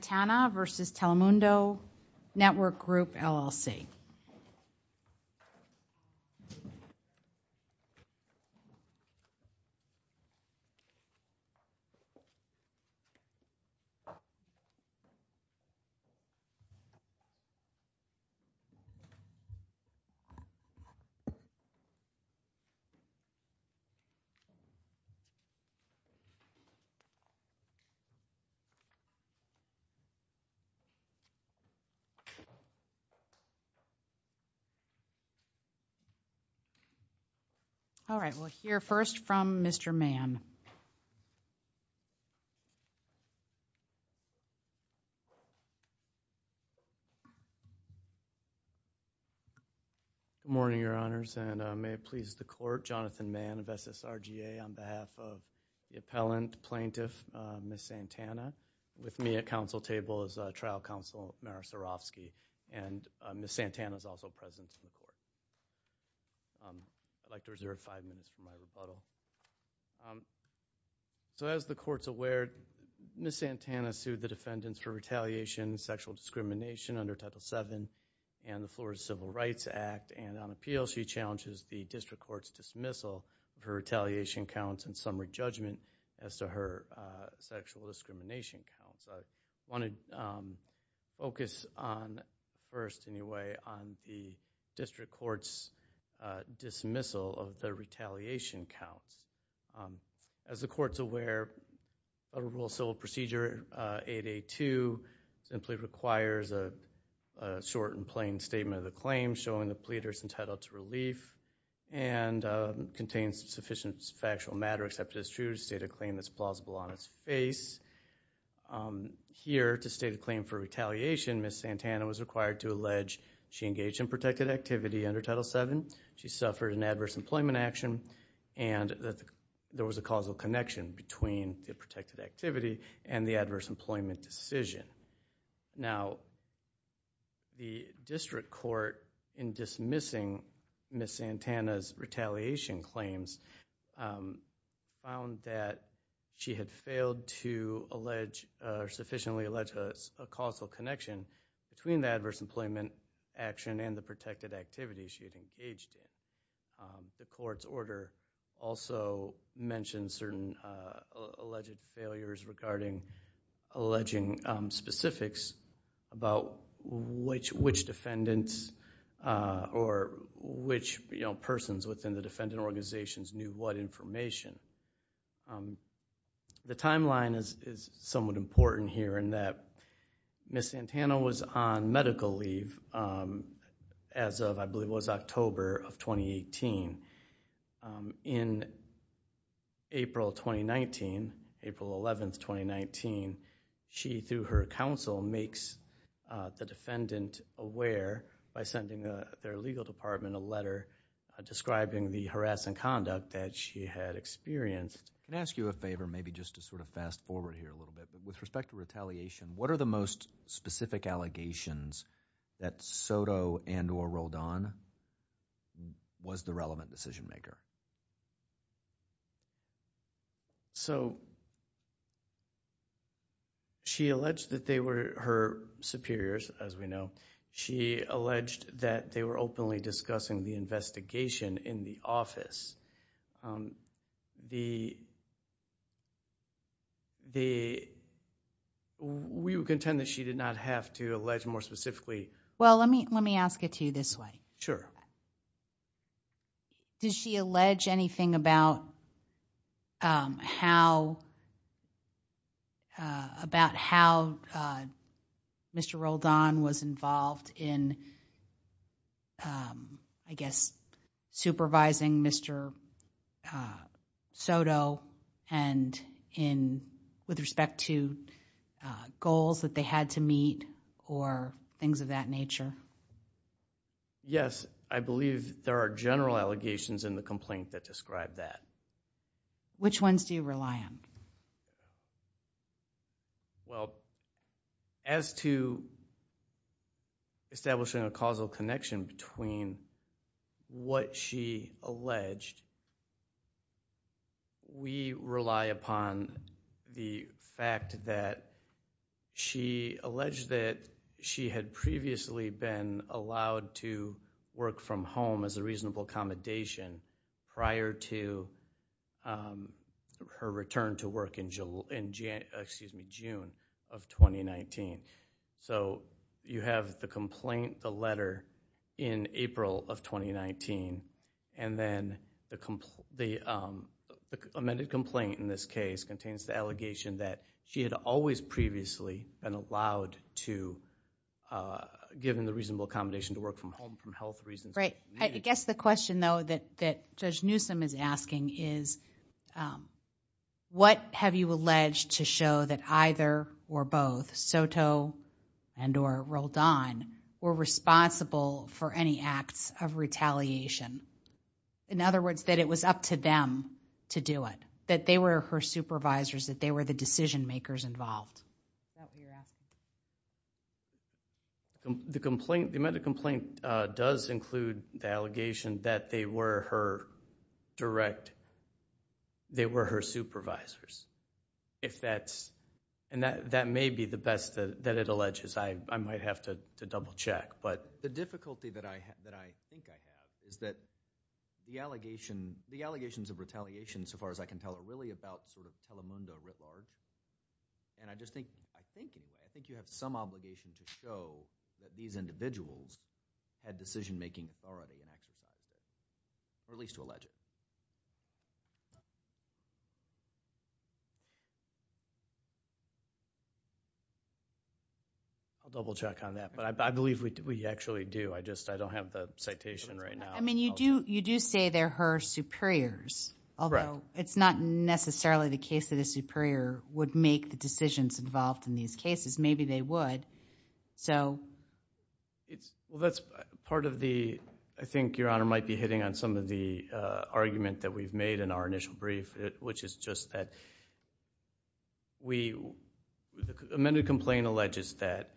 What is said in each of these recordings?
Santana v. Telemundo Network Group, LLC All right, we'll hear first from Mr. Mann. Good morning, Your Honors, and may it please the Court, Jonathan Mann of SSRGA on behalf of the Appellant Plaintiff, Ms. Santana. With me at counsel table is Trial Counsel, Mara Sarofsky, and Ms. Santana is also present in the Court. I'd like to reserve five minutes for my rebuttal. So as the Court's aware, Ms. Santana sued the defendants for retaliation, sexual discrimination under Title VII and the Florida Civil Rights Act, and on appeal she challenges the District Court's dismissal of her retaliation counts and summary judgment as to her sexual discrimination counts. I want to focus on, first anyway, on the District Court's dismissal of the retaliation counts. As the Court's aware, Federal Civil Procedure 8A2 simply requires a short and plain statement of the claim showing the pleaders entitled to relief and contains sufficient factual matter except it is true to state a claim that's plausible on its face. Here, to state a claim for retaliation, Ms. Santana was required to allege she engaged in protected activity under Title VII, she suffered an adverse employment action, and that there was a causal connection between the protected activity and the adverse employment action. Ms. Santana's retaliation claims found that she had failed to sufficiently allege a causal connection between the adverse employment action and the protected activity she had engaged in. The Court's order also mentions certain alleged failures regarding alleging specifics about which defendants or which persons within the defendant organizations knew what information. The timeline is somewhat important here in that Ms. Santana was on She, through her counsel, makes the defendant aware by sending their legal department a letter describing the harassing conduct that she had experienced. Can I ask you a favor, maybe just to sort of fast forward here a little bit? With respect to retaliation, what are the most specific allegations that Soto and or Roldan was the She alleged that they were her superiors, as we know. She alleged that they were openly discussing the investigation in the office. The, the, we would contend that she did not have to allege more specifically. Well, let me, let me ask it to you this way. Sure. Does she allege anything about how, about how Mr. Roldan was involved in, I guess, supervising Mr. Soto and in, with respect to goals that they had to meet or things of that nature? Yes, I believe there are general allegations in the complaint that describe that. Which ones do you rely on? Well, as to establishing a causal connection between what she alleged, we rely upon the fact that she alleged that she had previously been allowed to work from home as a reasonable accommodation prior to her return to work in June of 2019. So you have the complaint, the letter in April of 2019, and then the, the amended complaint in this case contains the allegation that she had always previously been allowed to, given the reasonable accommodation to work from home for health reasons. Right. I guess the question though, that, that Judge Newsom is asking is what have you alleged to show that either or both Soto and or Roldan were responsible for any acts of retaliation? In other words, that it was up to them to do it, that they were her supervisors, that they were the decision makers involved. The complaint, the amended complaint does include the allegation that they were her direct, they were her supervisors. If that's, and that, that may be the best that it alleges. I, I might have to double check, but. The difficulty that I have, that I think I have is that the allegation, the allegations of retaliation, so far as I can tell, are really about sort of Telemundo Ritlard. And I just think, I think, I think you have some obligation to show that these individuals had decision-making authority in action, or at least to allege it. I'll double check on that, but I, I believe we, we actually do. I just, I don't have the citation right now. I mean, you do, you do say they're her superiors, although it's not necessarily the case that a superior would make the decisions involved in these cases. Maybe they would. So. It's, well, that's part of the, I think Your Honor might be hitting on some of the argument that we've made in our initial brief, which is just that we, the amended complaint alleges that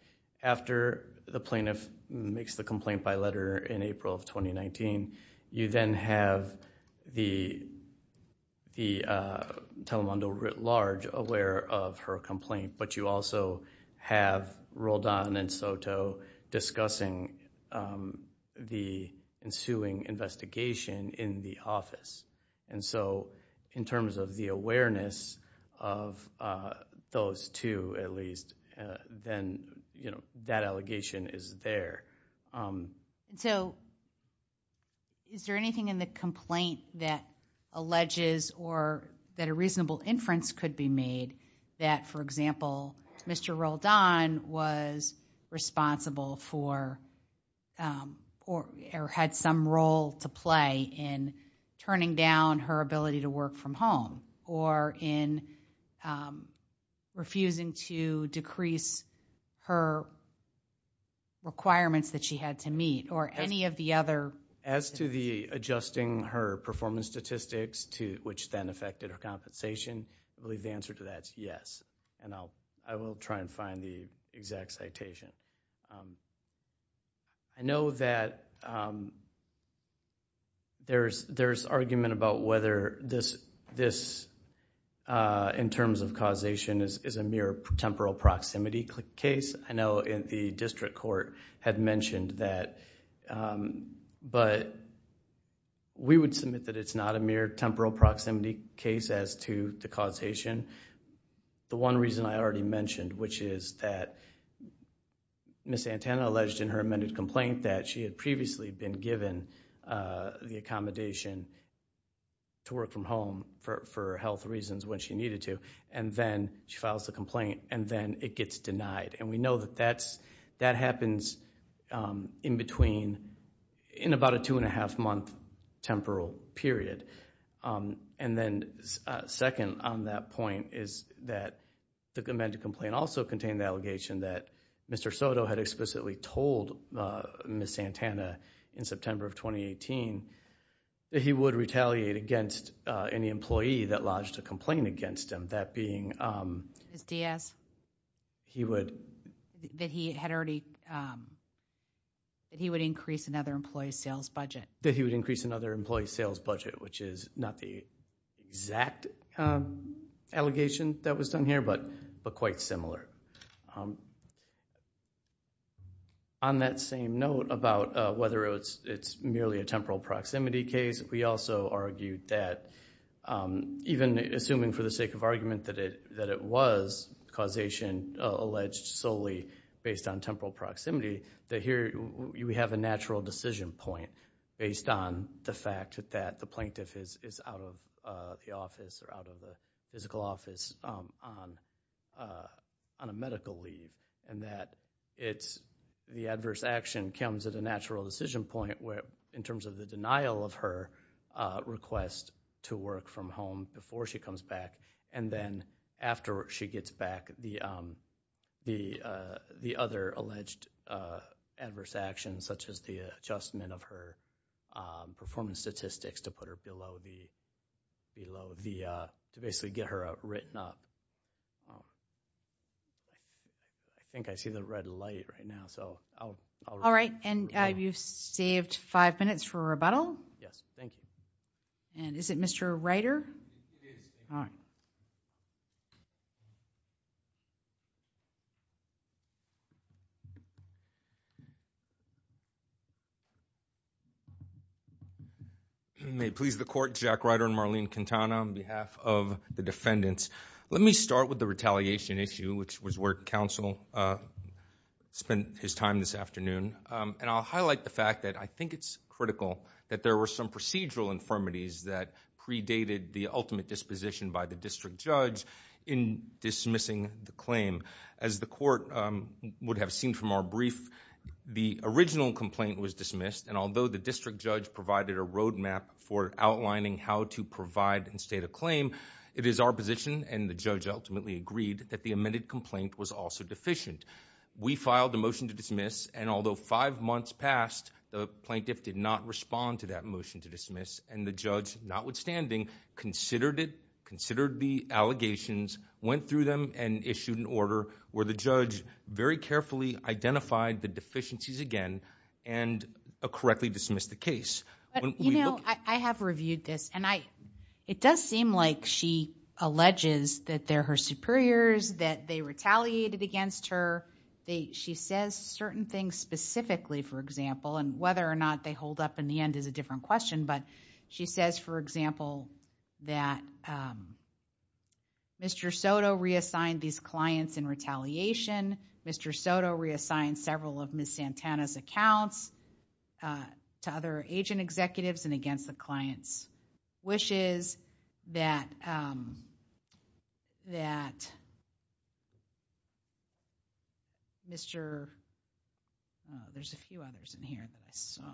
after the plaintiff makes the complaint by letter in April of 2019, you then have the, the Telemundo Ritlard aware of her complaint, but you also have Roldan and Soto discussing the ensuing investigation in the office. And so, in terms of the awareness of those two, at least, then, you know, that allegation is there. And so, is there anything in the complaint that alleges or that a reasonable inference could be made that, for example, Mr. Roldan was responsible for, or had some role to play in turning down her ability to work from home, or in refusing to decrease her requirements that she had to meet, or any of the other. As to the adjusting her performance statistics to, which then affected her compensation, I believe the answer to that is yes. And I'll, try and find the exact citation. I know that there's argument about whether this, in terms of causation, is a mere temporal proximity case. I know the district court had mentioned that, but we would submit that it's not a mere temporal proximity case as to the causation. The one reason I already mentioned, which is that Ms. Santana alleged in her amended complaint that she had previously been given the accommodation to work from home for health reasons when she needed to, and then she files the complaint, and then it gets denied. And we know that that's, that happens in between, in about a two and a half month temporal period. And then, second on that point, is that the amended complaint also contained the allegation that Mr. Soto had explicitly told Ms. Santana in September of 2018, that he would retaliate against any employee that lodged a complaint against him. That being, he would, that he had already, that he would increase another employee's sales budget. That he would increase another employee's sales budget, which is not the exact allegation that was done here, but quite similar. On that same note about whether it's merely a temporal proximity case, we also argued that, even assuming for the sake of argument that it was causation alleged solely based on temporal the plaintiff is out of the office or out of the physical office on a medical leave, and that it's, the adverse action comes at a natural decision point where, in terms of the denial of her request to work from home before she comes back, and then after she gets back, the other alleged adverse actions, such as the adjustment of her performance statistics to put her below the, below the, to basically get her written up. I think I see the red light right now, so I'll. All right, and you've saved five minutes for questions. May it please the court, Jack Ryder and Marlene Quintana on behalf of the defendants. Let me start with the retaliation issue, which was where counsel spent his time this afternoon, and I'll highlight the fact that I think it's critical that there were some procedural infirmities that predated the ultimate disposition by the district judge in dismissing the claim. As the court would have seen from our brief, the original complaint was dismissed, and although the district judge provided a roadmap for outlining how to provide and state a claim, it is our position, and the judge ultimately agreed, that the amended complaint was also deficient. We filed a motion to dismiss, and although five months passed, the plaintiff did not respond to that motion to dismiss, and the judge, notwithstanding, considered it, considered the where the judge very carefully identified the deficiencies again, and correctly dismissed the case. You know, I have reviewed this, and it does seem like she alleges that they're her superiors, that they retaliated against her. She says certain things specifically, for example, and whether or not they hold up in the end is a different question, but she says, for example, that Mr. Soto reassigned these clients in retaliation. Mr. Soto reassigned several of Ms. Santana's accounts to other agent executives, and against the client's wishes, that Mr., oh, there's a few others in here that I saw.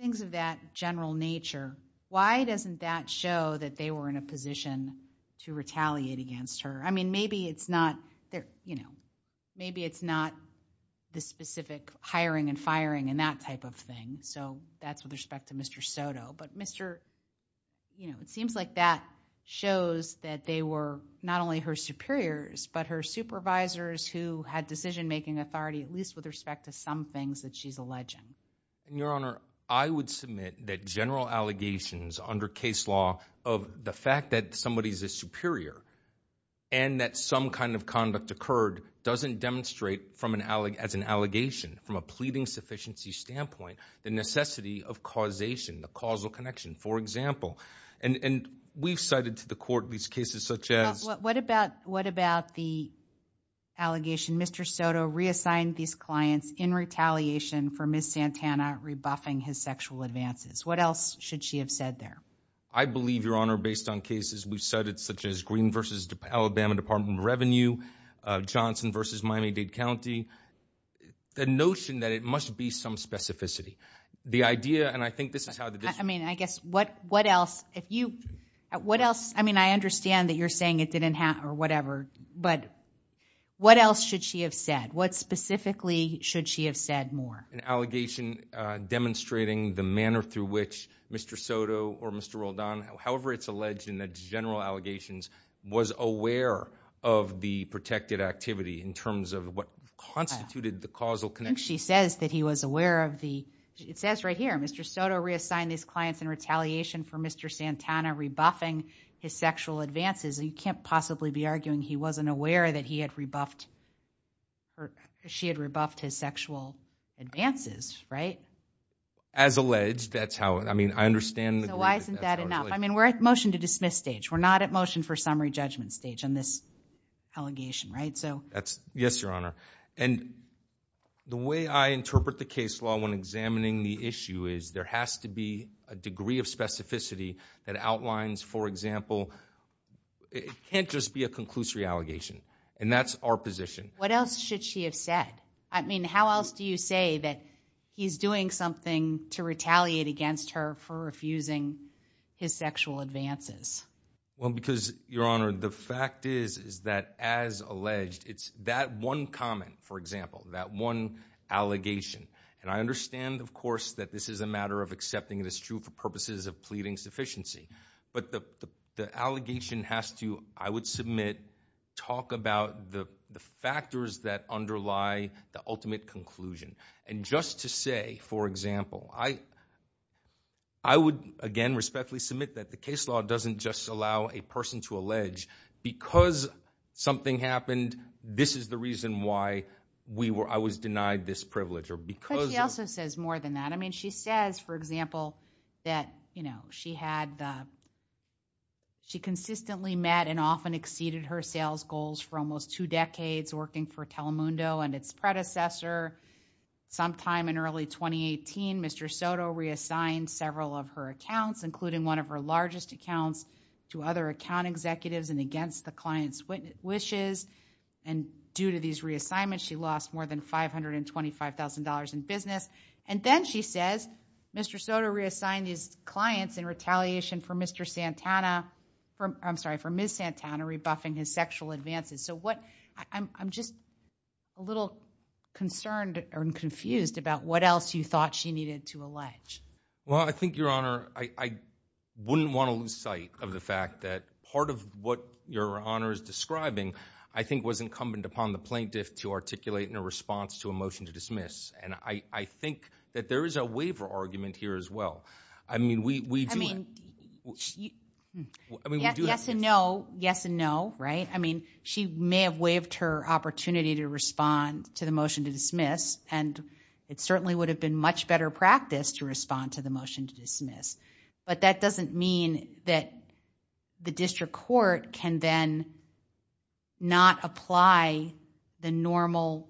Things of that general nature, why doesn't that show that they were in a position to retaliate against her? I mean, maybe it's not, you know, maybe it's not the specific hiring and firing and that type of thing, so that's with respect to Mr. Soto, but Mr., you know, it seems like that shows that they were not only her superiors, but her supervisors who had decision-making authority, at least with respect to some things that she's alleging. Your Honor, I would submit that general allegations under case law of the fact that somebody is a superior and that some kind of conduct occurred doesn't demonstrate as an allegation, from a pleading sufficiency standpoint, the necessity of causation, the causal connection, for example, and we've cited to the court these cases such as. What about the allegation, Mr. Soto reassigned these clients in retaliation for Ms. Santana rebuffing his sexual advances. What else should she have said there? I believe, Your Honor, based on cases we've cited such as Green versus Alabama Department of Revenue, Johnson versus Miami-Dade County, the notion that it must be some specificity. The idea, and I think this is how the district. I mean, I guess what else, if you, what else, I mean, I understand that you're saying it didn't happen or whatever, but what else should she have said? What specifically should she have said more? An allegation demonstrating the manner through which Mr. Soto or Mr. Roldan, however it's alleged in the general allegations, was aware of the protected activity in terms of what constituted the causal connection. She says that he was aware of the, it says right here, Mr. Soto reassigned these clients in retaliation for Mr. Santana rebuffing his sexual advances. You can't possibly be to dismiss stage. We're not at motion for summary judgment stage on this allegation, right? So that's, yes, Your Honor. And the way I interpret the case law when examining the issue is there has to be a degree of specificity that outlines, for example, it can't just be a conclusory allegation. And that's our position. What else should she have said? I mean, how else do you say that he's doing something to retaliate against her for refusing his sexual advances? Well, because Your Honor, the fact is, is that as alleged, it's that one comment, for example, that one allegation. And I understand of course, that this is a matter of accepting it as true for purposes of pleading sufficiency, but the, the, the allegation has to, I would submit, talk about the, the factors that underlie the ultimate conclusion. And just to say, for example, I, I would, again, respectfully submit that the case law doesn't just allow a person to allege because something happened, this is the reason why we were, I was denied this privilege or because. But she also says more than that. I mean, she says, for example, that, you know, she had, she consistently met and often exceeded her sales goals for almost two decades working for Telemundo and its predecessor. Sometime in early 2018, Mr. Soto reassigned several of her accounts, including one of her largest accounts to other account executives and against the client's wishes. And due to these reassignments, she lost more than $525,000 in business. And then she says, Mr. Soto reassigned his clients in retaliation for Mr. Santana, from, I'm sorry, for Ms. Santana rebuffing his sexual advances. So what, I'm, I'm just a little concerned and confused about what else you thought she needed to allege. Well, I think Your Honor, I, I wouldn't want to lose sight of the fact that part of what Your Honor is describing, I think was incumbent upon the plaintiff to articulate in a response to a motion to dismiss. And I, I think that there is a waiver argument here as well. I mean, we, we do. I mean, yes and no, yes and no, right? I mean, she may have waived her opportunity to respond to the motion to dismiss and it certainly would have been much better practice to respond to the motion to dismiss. But that doesn't mean that the district court can then not apply the normal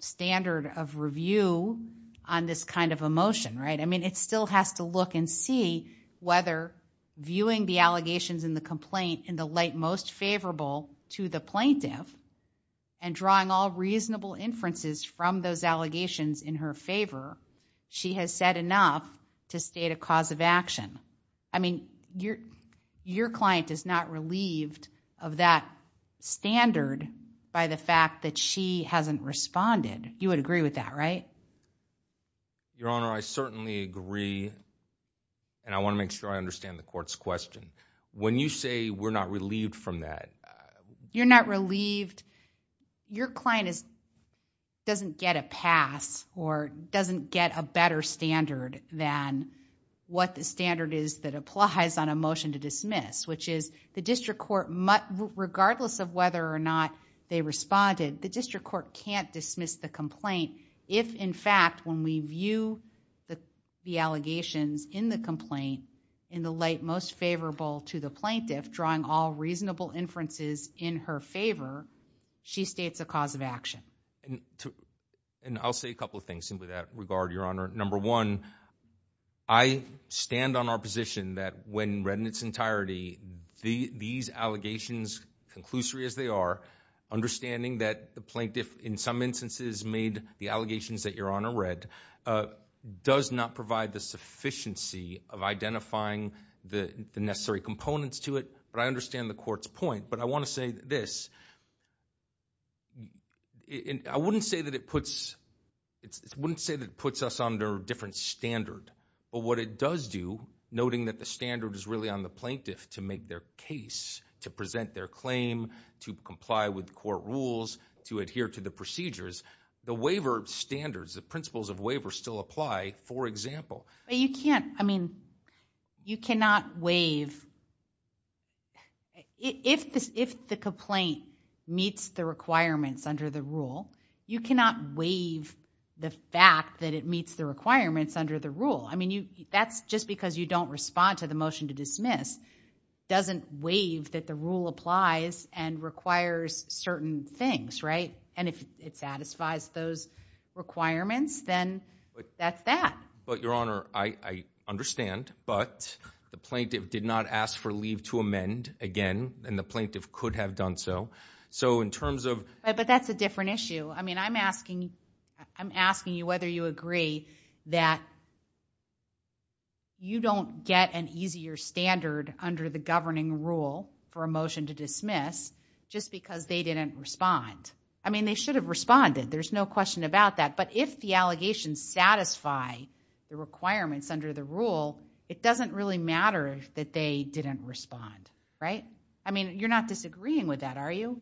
standard of review on this kind of a motion, right? I mean, it still has to look and see whether viewing the allegations in the complaint in the light most favorable to the plaintiff and drawing all reasonable inferences from those allegations in her favor, she has said enough to state a cause of action. I mean, your, your client is not relieved of that standard by the fact that she hasn't responded. You would agree with that, right? Your Honor, I certainly agree and I want to make sure I understand the court's question. When you say we're not relieved from that. You're not relieved. Your client is, doesn't get a pass or doesn't get a better standard than what the standard is that applies on a motion to dismiss, which is the district court, regardless of whether or not they responded, the district court can't dismiss the complaint. If in fact, when we view the allegations in the complaint in the light most favorable to the plaintiff, drawing all reasonable inferences in her favor, she states a cause of action. And I'll say a couple of things simply that regard, number one, I stand on our position that when read in its entirety, these allegations, conclusory as they are, understanding that the plaintiff in some instances made the allegations that your Honor read, does not provide the sufficiency of identifying the necessary components to it. But I understand the court's point, but I want to say this. And I wouldn't say that it puts, it wouldn't say that it puts us under a different standard, but what it does do, noting that the standard is really on the plaintiff to make their case, to present their claim, to comply with court rules, to adhere to the procedures, the waiver standards, the principles of waiver still apply, for example. You can't, I mean, you cannot waive, if the complaint meets the requirements under the rule, you cannot waive the fact that it meets the requirements under the rule. I mean, that's just because you don't respond to the motion to dismiss, doesn't waive that the rule applies and requires certain things, right? And if it satisfies those requirements, then that's that. But your Honor, I understand, but the plaintiff did not ask for leave to amend again, and the plaintiff could have done so. So in terms of... But that's a different issue. I mean, I'm asking, I'm asking you whether you agree that you don't get an easier standard under the governing rule for a motion to dismiss, just because they didn't respond. I mean, they should have responded. There's no question about that. But if the allegations satisfy the requirements under the rule, it doesn't really matter that they didn't respond, right? I mean, you're not disagreeing with that, are you?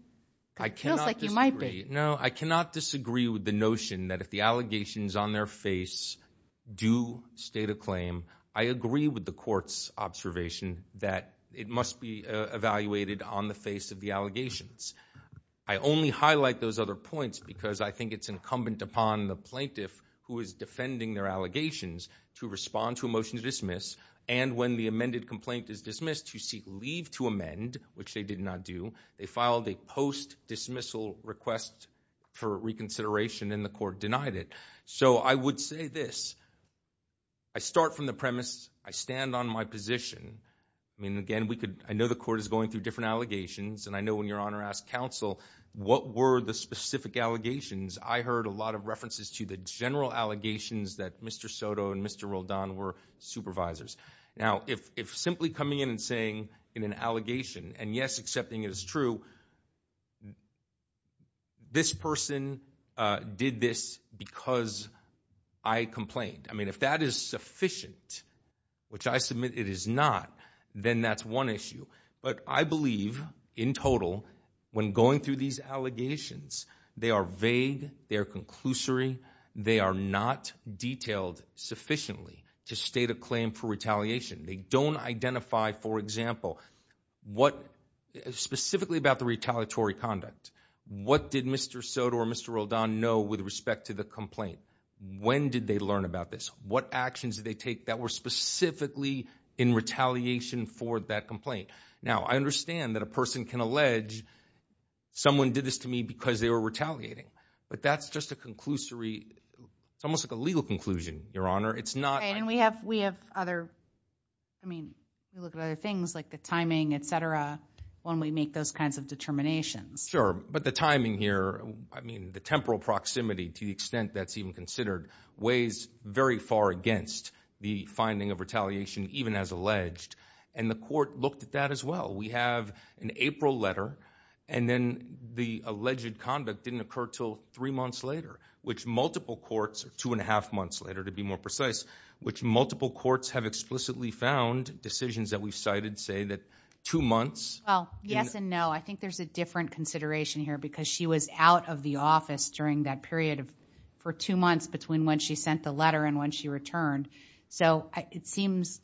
I cannot disagree. No, I cannot disagree with the notion that if the allegations on their face do state a claim, I agree with the court's observation that it must be evaluated on the allegations. I only highlight those other points because I think it's incumbent upon the plaintiff who is defending their allegations to respond to a motion to dismiss. And when the amended complaint is dismissed, you seek leave to amend, which they did not do. They filed a post-dismissal request for reconsideration, and the court denied it. So I would say this. I start from the premise, I stand on my position. I mean, again, I know the court is going through different allegations, and I know when your Honor asked counsel what were the specific allegations, I heard a lot of references to the general allegations that Mr. Soto and Mr. Roldan were supervisors. Now, if simply coming in and saying in an allegation, and yes, accepting it is true, this person did this because I complained. I mean, if that is sufficient, which I submit it is not, then that's one issue. But I believe, in total, when going through these allegations, they are vague, they are conclusory, they are not detailed sufficiently to state a claim for retaliatory conduct. What did Mr. Soto or Mr. Roldan know with respect to the complaint? When did they learn about this? What actions did they take that were specifically in retaliation for that complaint? Now, I understand that a person can allege, someone did this to me because they were retaliating. But that's just a conclusory, it's almost like a legal conclusion, Your Honor. It's not... Right, and we have other, I mean, we look at other things like the timing, etc. when we make those kinds of determinations. Sure, but the timing here, I mean, the temporal proximity to the extent that's even considered, weighs very far against the finding of retaliation even as alleged. And the court looked at that as well. We have an April letter, and then the alleged conduct didn't occur till three months later, which multiple courts, two and a half months later to be more precise, which multiple courts have explicitly found decisions that we've Well, yes and no. I think there's a different consideration here because she was out of the office during that period of, for two months between when she sent the letter and when she returned. So it seems,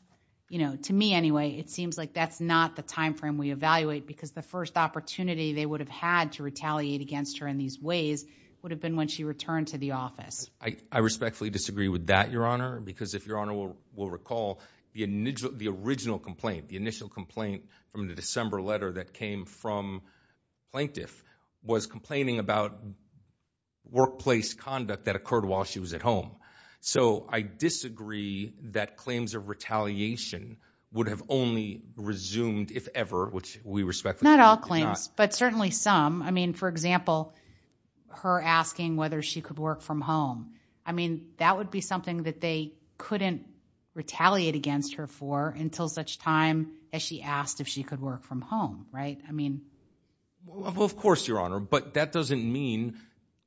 you know, to me anyway, it seems like that's not the time frame we evaluate because the first opportunity they would have had to retaliate against her in these ways would have been when she returned to the office. I respectfully disagree with that, Your Honor, because if Your Honor will recall, the original complaint, the initial complaint from the December letter that came from plaintiff was complaining about workplace conduct that occurred while she was at home. So I disagree that claims of retaliation would have only resumed if ever, which we respectfully do not. Not all claims, but certainly some. I mean, for example, her asking whether she could work from home. I mean, that would be something that they couldn't retaliate against her for until such time as she asked if she could work from home, right? I mean, well, of course, Your Honor, but that doesn't mean,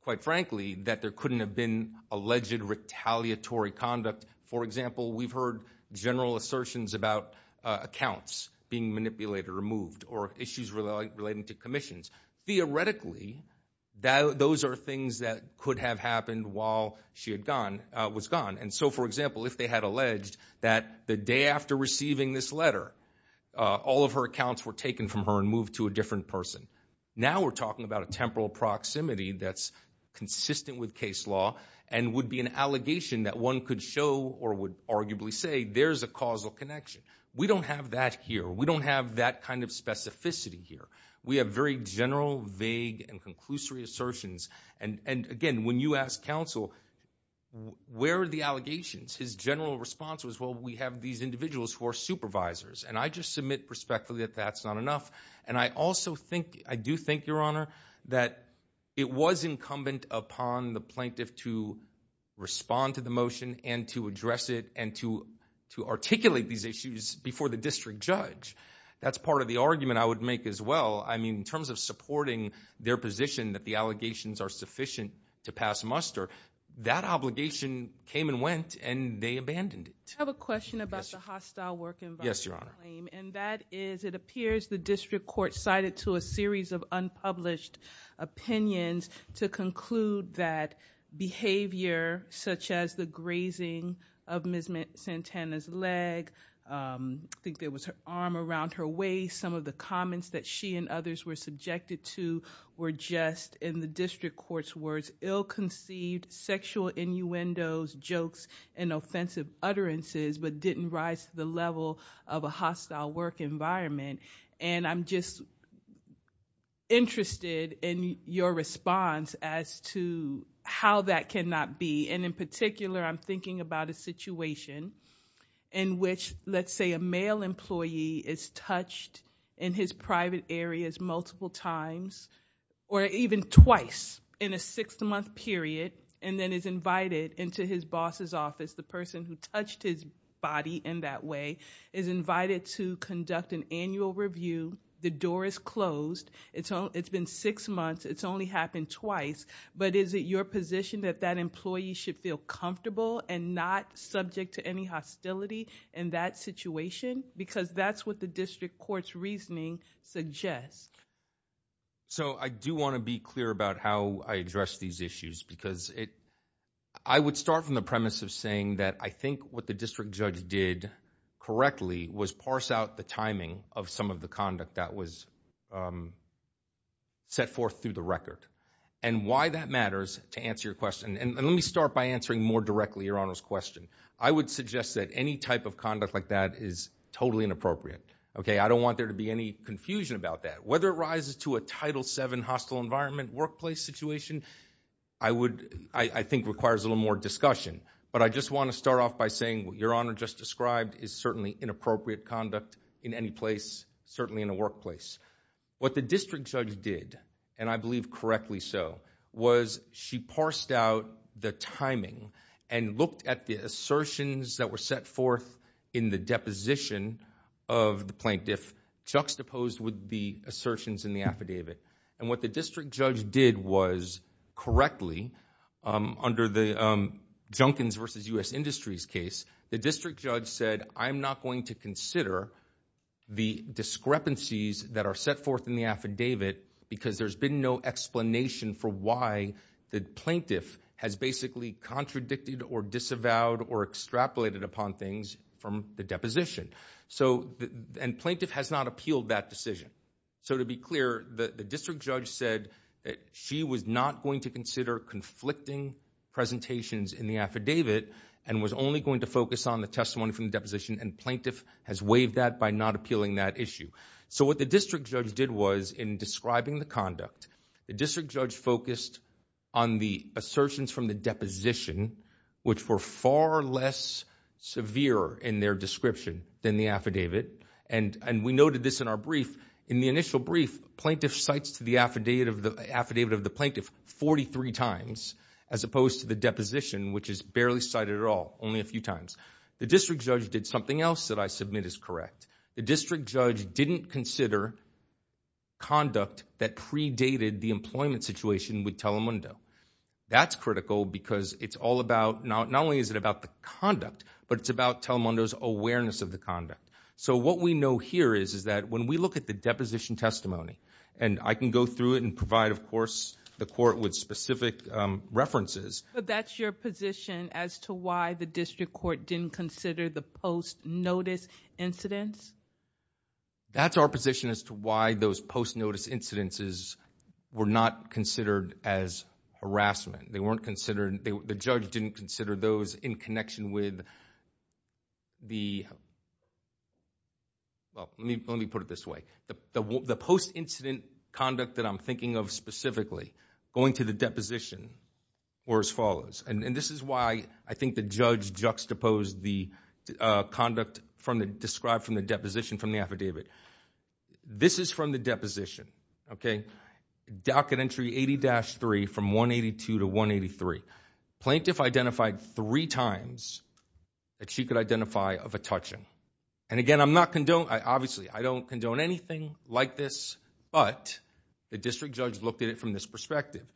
quite frankly, that there couldn't have been alleged retaliatory conduct. For example, we've heard general assertions about accounts being those are things that could have happened while she was gone. And so, for example, if they had alleged that the day after receiving this letter, all of her accounts were taken from her and moved to a different person. Now we're talking about a temporal proximity that's consistent with case law and would be an allegation that one could show or would arguably say there's a causal connection. We don't have that here. We don't have that kind of specificity here. We have very general, vague, and conclusory assertions. And again, when you ask counsel, where are the allegations? His general response was, well, we have these individuals who are supervisors. And I just submit respectfully that that's not enough. And I also think, I do think, Your Honor, that it was incumbent upon the plaintiff to respond to the motion and to address it and to articulate these issues before the district judge. That's part of the argument I would make as well. I mean, in terms of supporting their position that the allegations are sufficient to pass muster, that obligation came and went and they abandoned it. I have a question about the hostile work environment. Yes, Your Honor. And that is, it appears the district court cited to a series of unpublished opinions to conclude that behavior such as the grazing of Ms. Santana's leg, I think there was her arm around her waist, some of the comments that she and others were subjected to were just, in the district court's words, ill-conceived sexual innuendos, jokes, and offensive utterances, but didn't rise to the level of a hostile work environment. And I'm just interested in your response as to how that cannot be. And in particular, I'm thinking about a let's say a male employee is touched in his private areas multiple times, or even twice in a six-month period, and then is invited into his boss's office, the person who touched his body in that way, is invited to conduct an annual review, the door is closed, it's been six months, it's only happened twice, but is it your position that that employee should feel comfortable and not subject to any hostility in that situation? Because that's what the district court's reasoning suggests. So I do want to be clear about how I address these issues, because I would start from the premise of saying that I think what the district judge did correctly was parse out the timing of some of the conduct that was set forth through the record. And why that matters, to answer your Honor's question. I would suggest that any type of conduct like that is totally inappropriate. Okay, I don't want there to be any confusion about that. Whether it rises to a Title VII hostile environment workplace situation, I would, I think requires a little more discussion. But I just want to start off by saying what your Honor just described is certainly inappropriate conduct in any place, certainly in a workplace. What the district judge did, and I believe correctly so, was she parsed out the timing and looked at the assertions that were set forth in the deposition of the plaintiff, juxtaposed with the assertions in the affidavit. And what the district judge did was correctly, under the Junkins v. U.S. Industries case, the district judge said, I'm not going to consider the discrepancies that are set forth in the affidavit because there's been no explanation for why the plaintiff has basically contradicted or disavowed or extrapolated upon things from the deposition. So, and plaintiff has not appealed that decision. So to be clear, the district judge said that she was not going to consider conflicting presentations in the affidavit and was only going to focus on the testimony from the deposition and plaintiff has waived that by not appealing that issue. So what the district judge did was, in describing the conduct, the district judge focused on the assertions from the deposition, which were far less severe in their description than the affidavit. And we noted this in our brief. In the initial brief, plaintiff cites the affidavit of the plaintiff 43 times, as opposed to the deposition, which is barely cited at all, only a few times. The district judge did something else that I submit is correct. The district judge didn't consider conduct that predated the employment situation with Telemundo. That's critical because it's all about, not only is it about the conduct, but it's about Telemundo's awareness of the conduct. So what we know here is, is that when we look at the deposition testimony, and I can go through it and provide, of course, the court with specific references. But that's your position as to why the district court didn't consider the post notice incidents? That's our position as to why those post notice incidences were not considered as harassment. They weren't considered, the judge didn't consider those in connection with the, well, let me put it this way. The post incident conduct that I'm thinking of specifically, going to the deposition, were as follows. And this is why I think the judge juxtaposed the conduct from the, described from the deposition from the affidavit. This is from the deposition, okay? Docket entry 80-3 from 182 to 183. Plaintiff identified three times that she could identify of a touching. And again, I'm not condoning, obviously I don't condone anything like this, but the district judge looked at it from this perspective.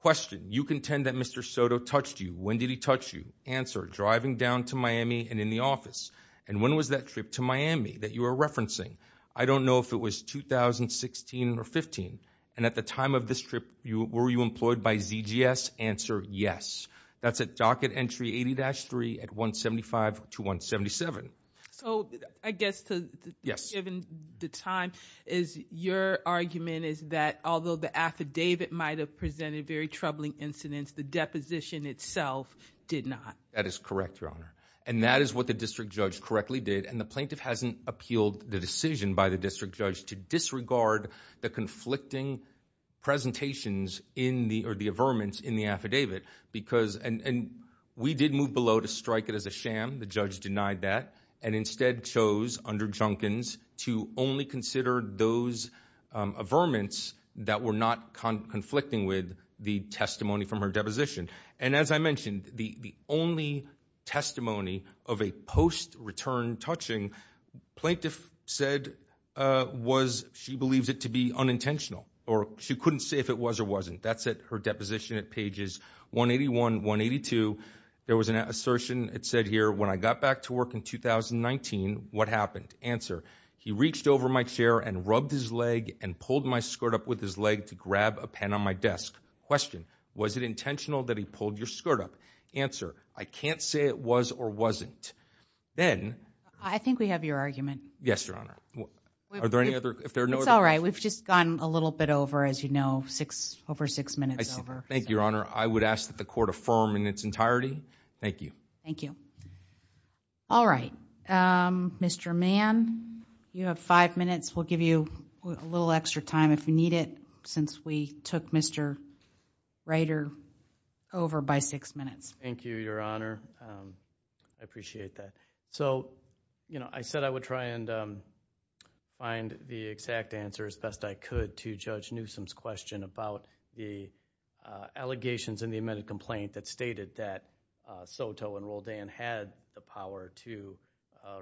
Question, you contend that Mr. Soto touched you. When did he touch you? Answer, driving down to Miami and in the office. And when was that trip to Miami that you were referencing? I don't know if it was 2016 or 15. And at the time of this trip, were you employed by ZGS? Answer, yes. That's a docket entry 80-3 at 175 to 177. So I guess to, given the time, is your argument is that although the affidavit might've presented very troubling incidents, the deposition itself did not? That is correct, Your Honor. And that is what the district judge correctly did. And the plaintiff hasn't appealed the decision by the district judge to disregard the conflicting presentations in the, or the averments in the affidavit. Because, and we did move below to strike it as a sham. The judge denied that and instead chose under Junkins to only consider those averments that were not conflicting with the testimony from her deposition. And as I mentioned, the only testimony of a post-return touching, plaintiff said, was she believes it to be unintentional. Or she couldn't say if it was or wasn't. That's at her deposition at pages 181, 182. There was an assertion, it said here, when I got back to work in 2019, what happened? Answer, he reached over my chair and rubbed his leg and pulled my skirt up with his leg to grab a pen on my desk. Question, was it intentional that he pulled your skirt up? Answer, I can't say it was or wasn't. Then. I think we have your argument. Yes, Your Honor. Are there any other, if there are no other. It's all right. We've just gone a little bit over, as you know, six, over six minutes over. Thank you, Your Honor. I would ask that the court affirm in its entirety. Thank you. Thank you. All right. Mr. Mann, you have five minutes. We'll give you a little extra time if you need it, since we took Mr. Ryder over by six minutes. Thank you, Your Honor. I appreciate that. So, you know, I said I would try and find the exact answer as best I could to allegations in the amended complaint that stated that Soto and Roldan had the power to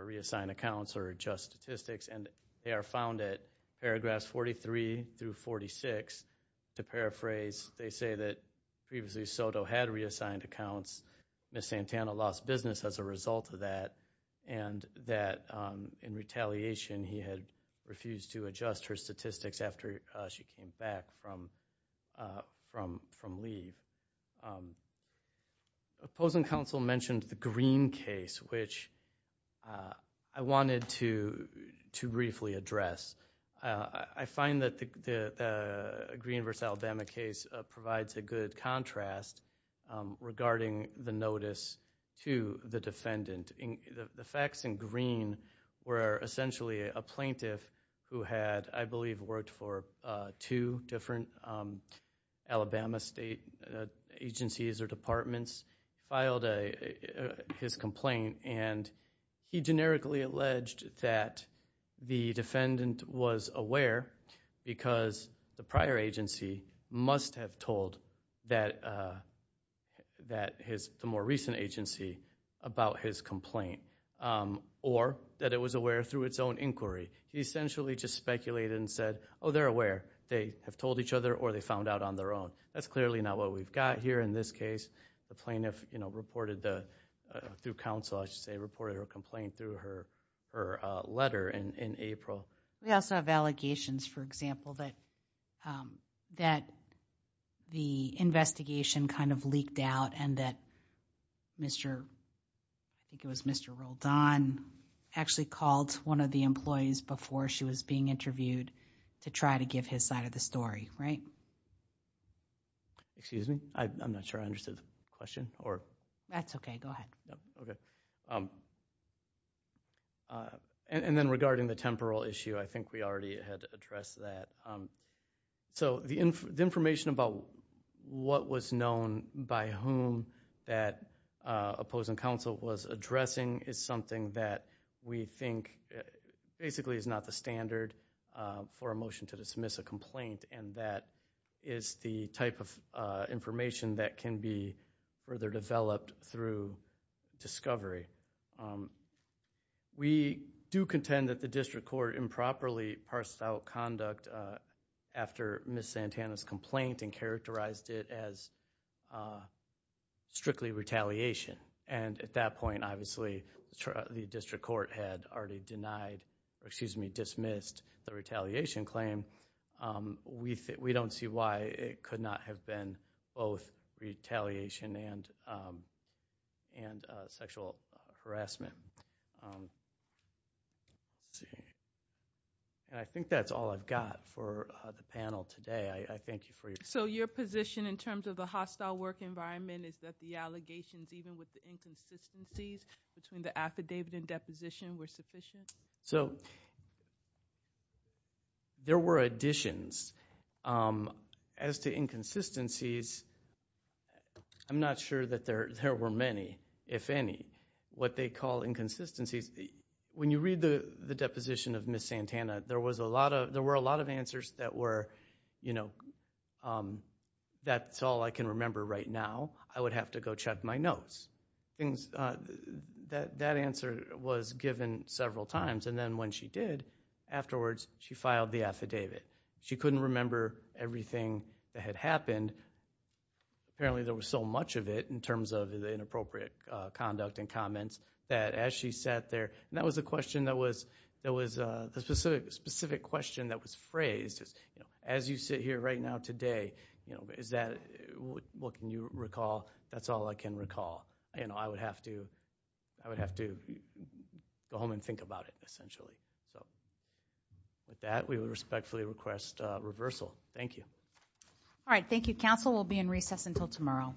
reassign accounts or adjust statistics. And they are found at paragraphs 43 through 46. To paraphrase, they say that previously Soto had reassigned accounts. Ms. Santana lost business as a result of that. And that in retaliation, he had refused to adjust her statistics after she came back from leave. The opposing counsel mentioned the Green case, which I wanted to briefly address. I find that the Green v. Alabama case provides a good contrast regarding the notice to the defendant. The facts in Green were essentially a plaintiff who had, I believe, worked for two different Alabama state agencies or departments, filed his complaint, and he generically alleged that the defendant was aware because the prior agency must have told the more recent agency about his complaint, or that it was aware through its own inquiry. He essentially just speculated and said, oh, they're aware. They have told each other or they found out on their own. That's clearly not what we've got here in this case. The plaintiff, you know, reported through counsel, I should say, reported her complaint through her letter in April. We also have allegations, for example, that the investigation kind of leaked out and that Mr. Roldan actually called one of the employees before she was being interviewed to try to give his side of the story, right? Excuse me? I'm not sure I understood the question. That's okay. Go ahead. Okay. Then regarding the temporal issue, I think we already had addressed that. So the information about what was known by whom that opposing counsel was addressing is something that we think basically is not the standard for a motion to dismiss a complaint, and that is the type of information that can be further developed through discovery. We do contend that the district court improperly parsed out conduct after Ms. Santana's complaint and characterized it as strictly retaliation, and at that point, obviously, the district court had already denied, excuse me, dismissed the retaliation claim. We don't see why it could not have been both retaliation and sexual harassment. And I think that's all I've got for the panel today. I thank you for your time. So your position in terms of the hostile work environment is that the allegations, even with the inconsistencies between the affidavit and deposition, were sufficient? So there were additions. As to inconsistencies, I'm not sure that there were many, if any. What they call inconsistencies, when you read the deposition of Ms. Santana, there were a lot of answers that were, you know, that's all I can remember right now. I would have to go check my notes. That answer was given several times, and then when she did, afterwards, she filed the affidavit. She couldn't remember everything that had happened. Apparently, there was so much of it in terms of the inappropriate conduct and comments that as she sat there, and that was a question that was, that was a specific question that was phrased, as you sit here right now today, you know, is that, what can you recall? That's all I can recall. You know, I would have to, I would have to go home and think about it, essentially. So with that, we would respectfully request reversal. Thank you. All right. Thank you, counsel. We'll be in recess until tomorrow.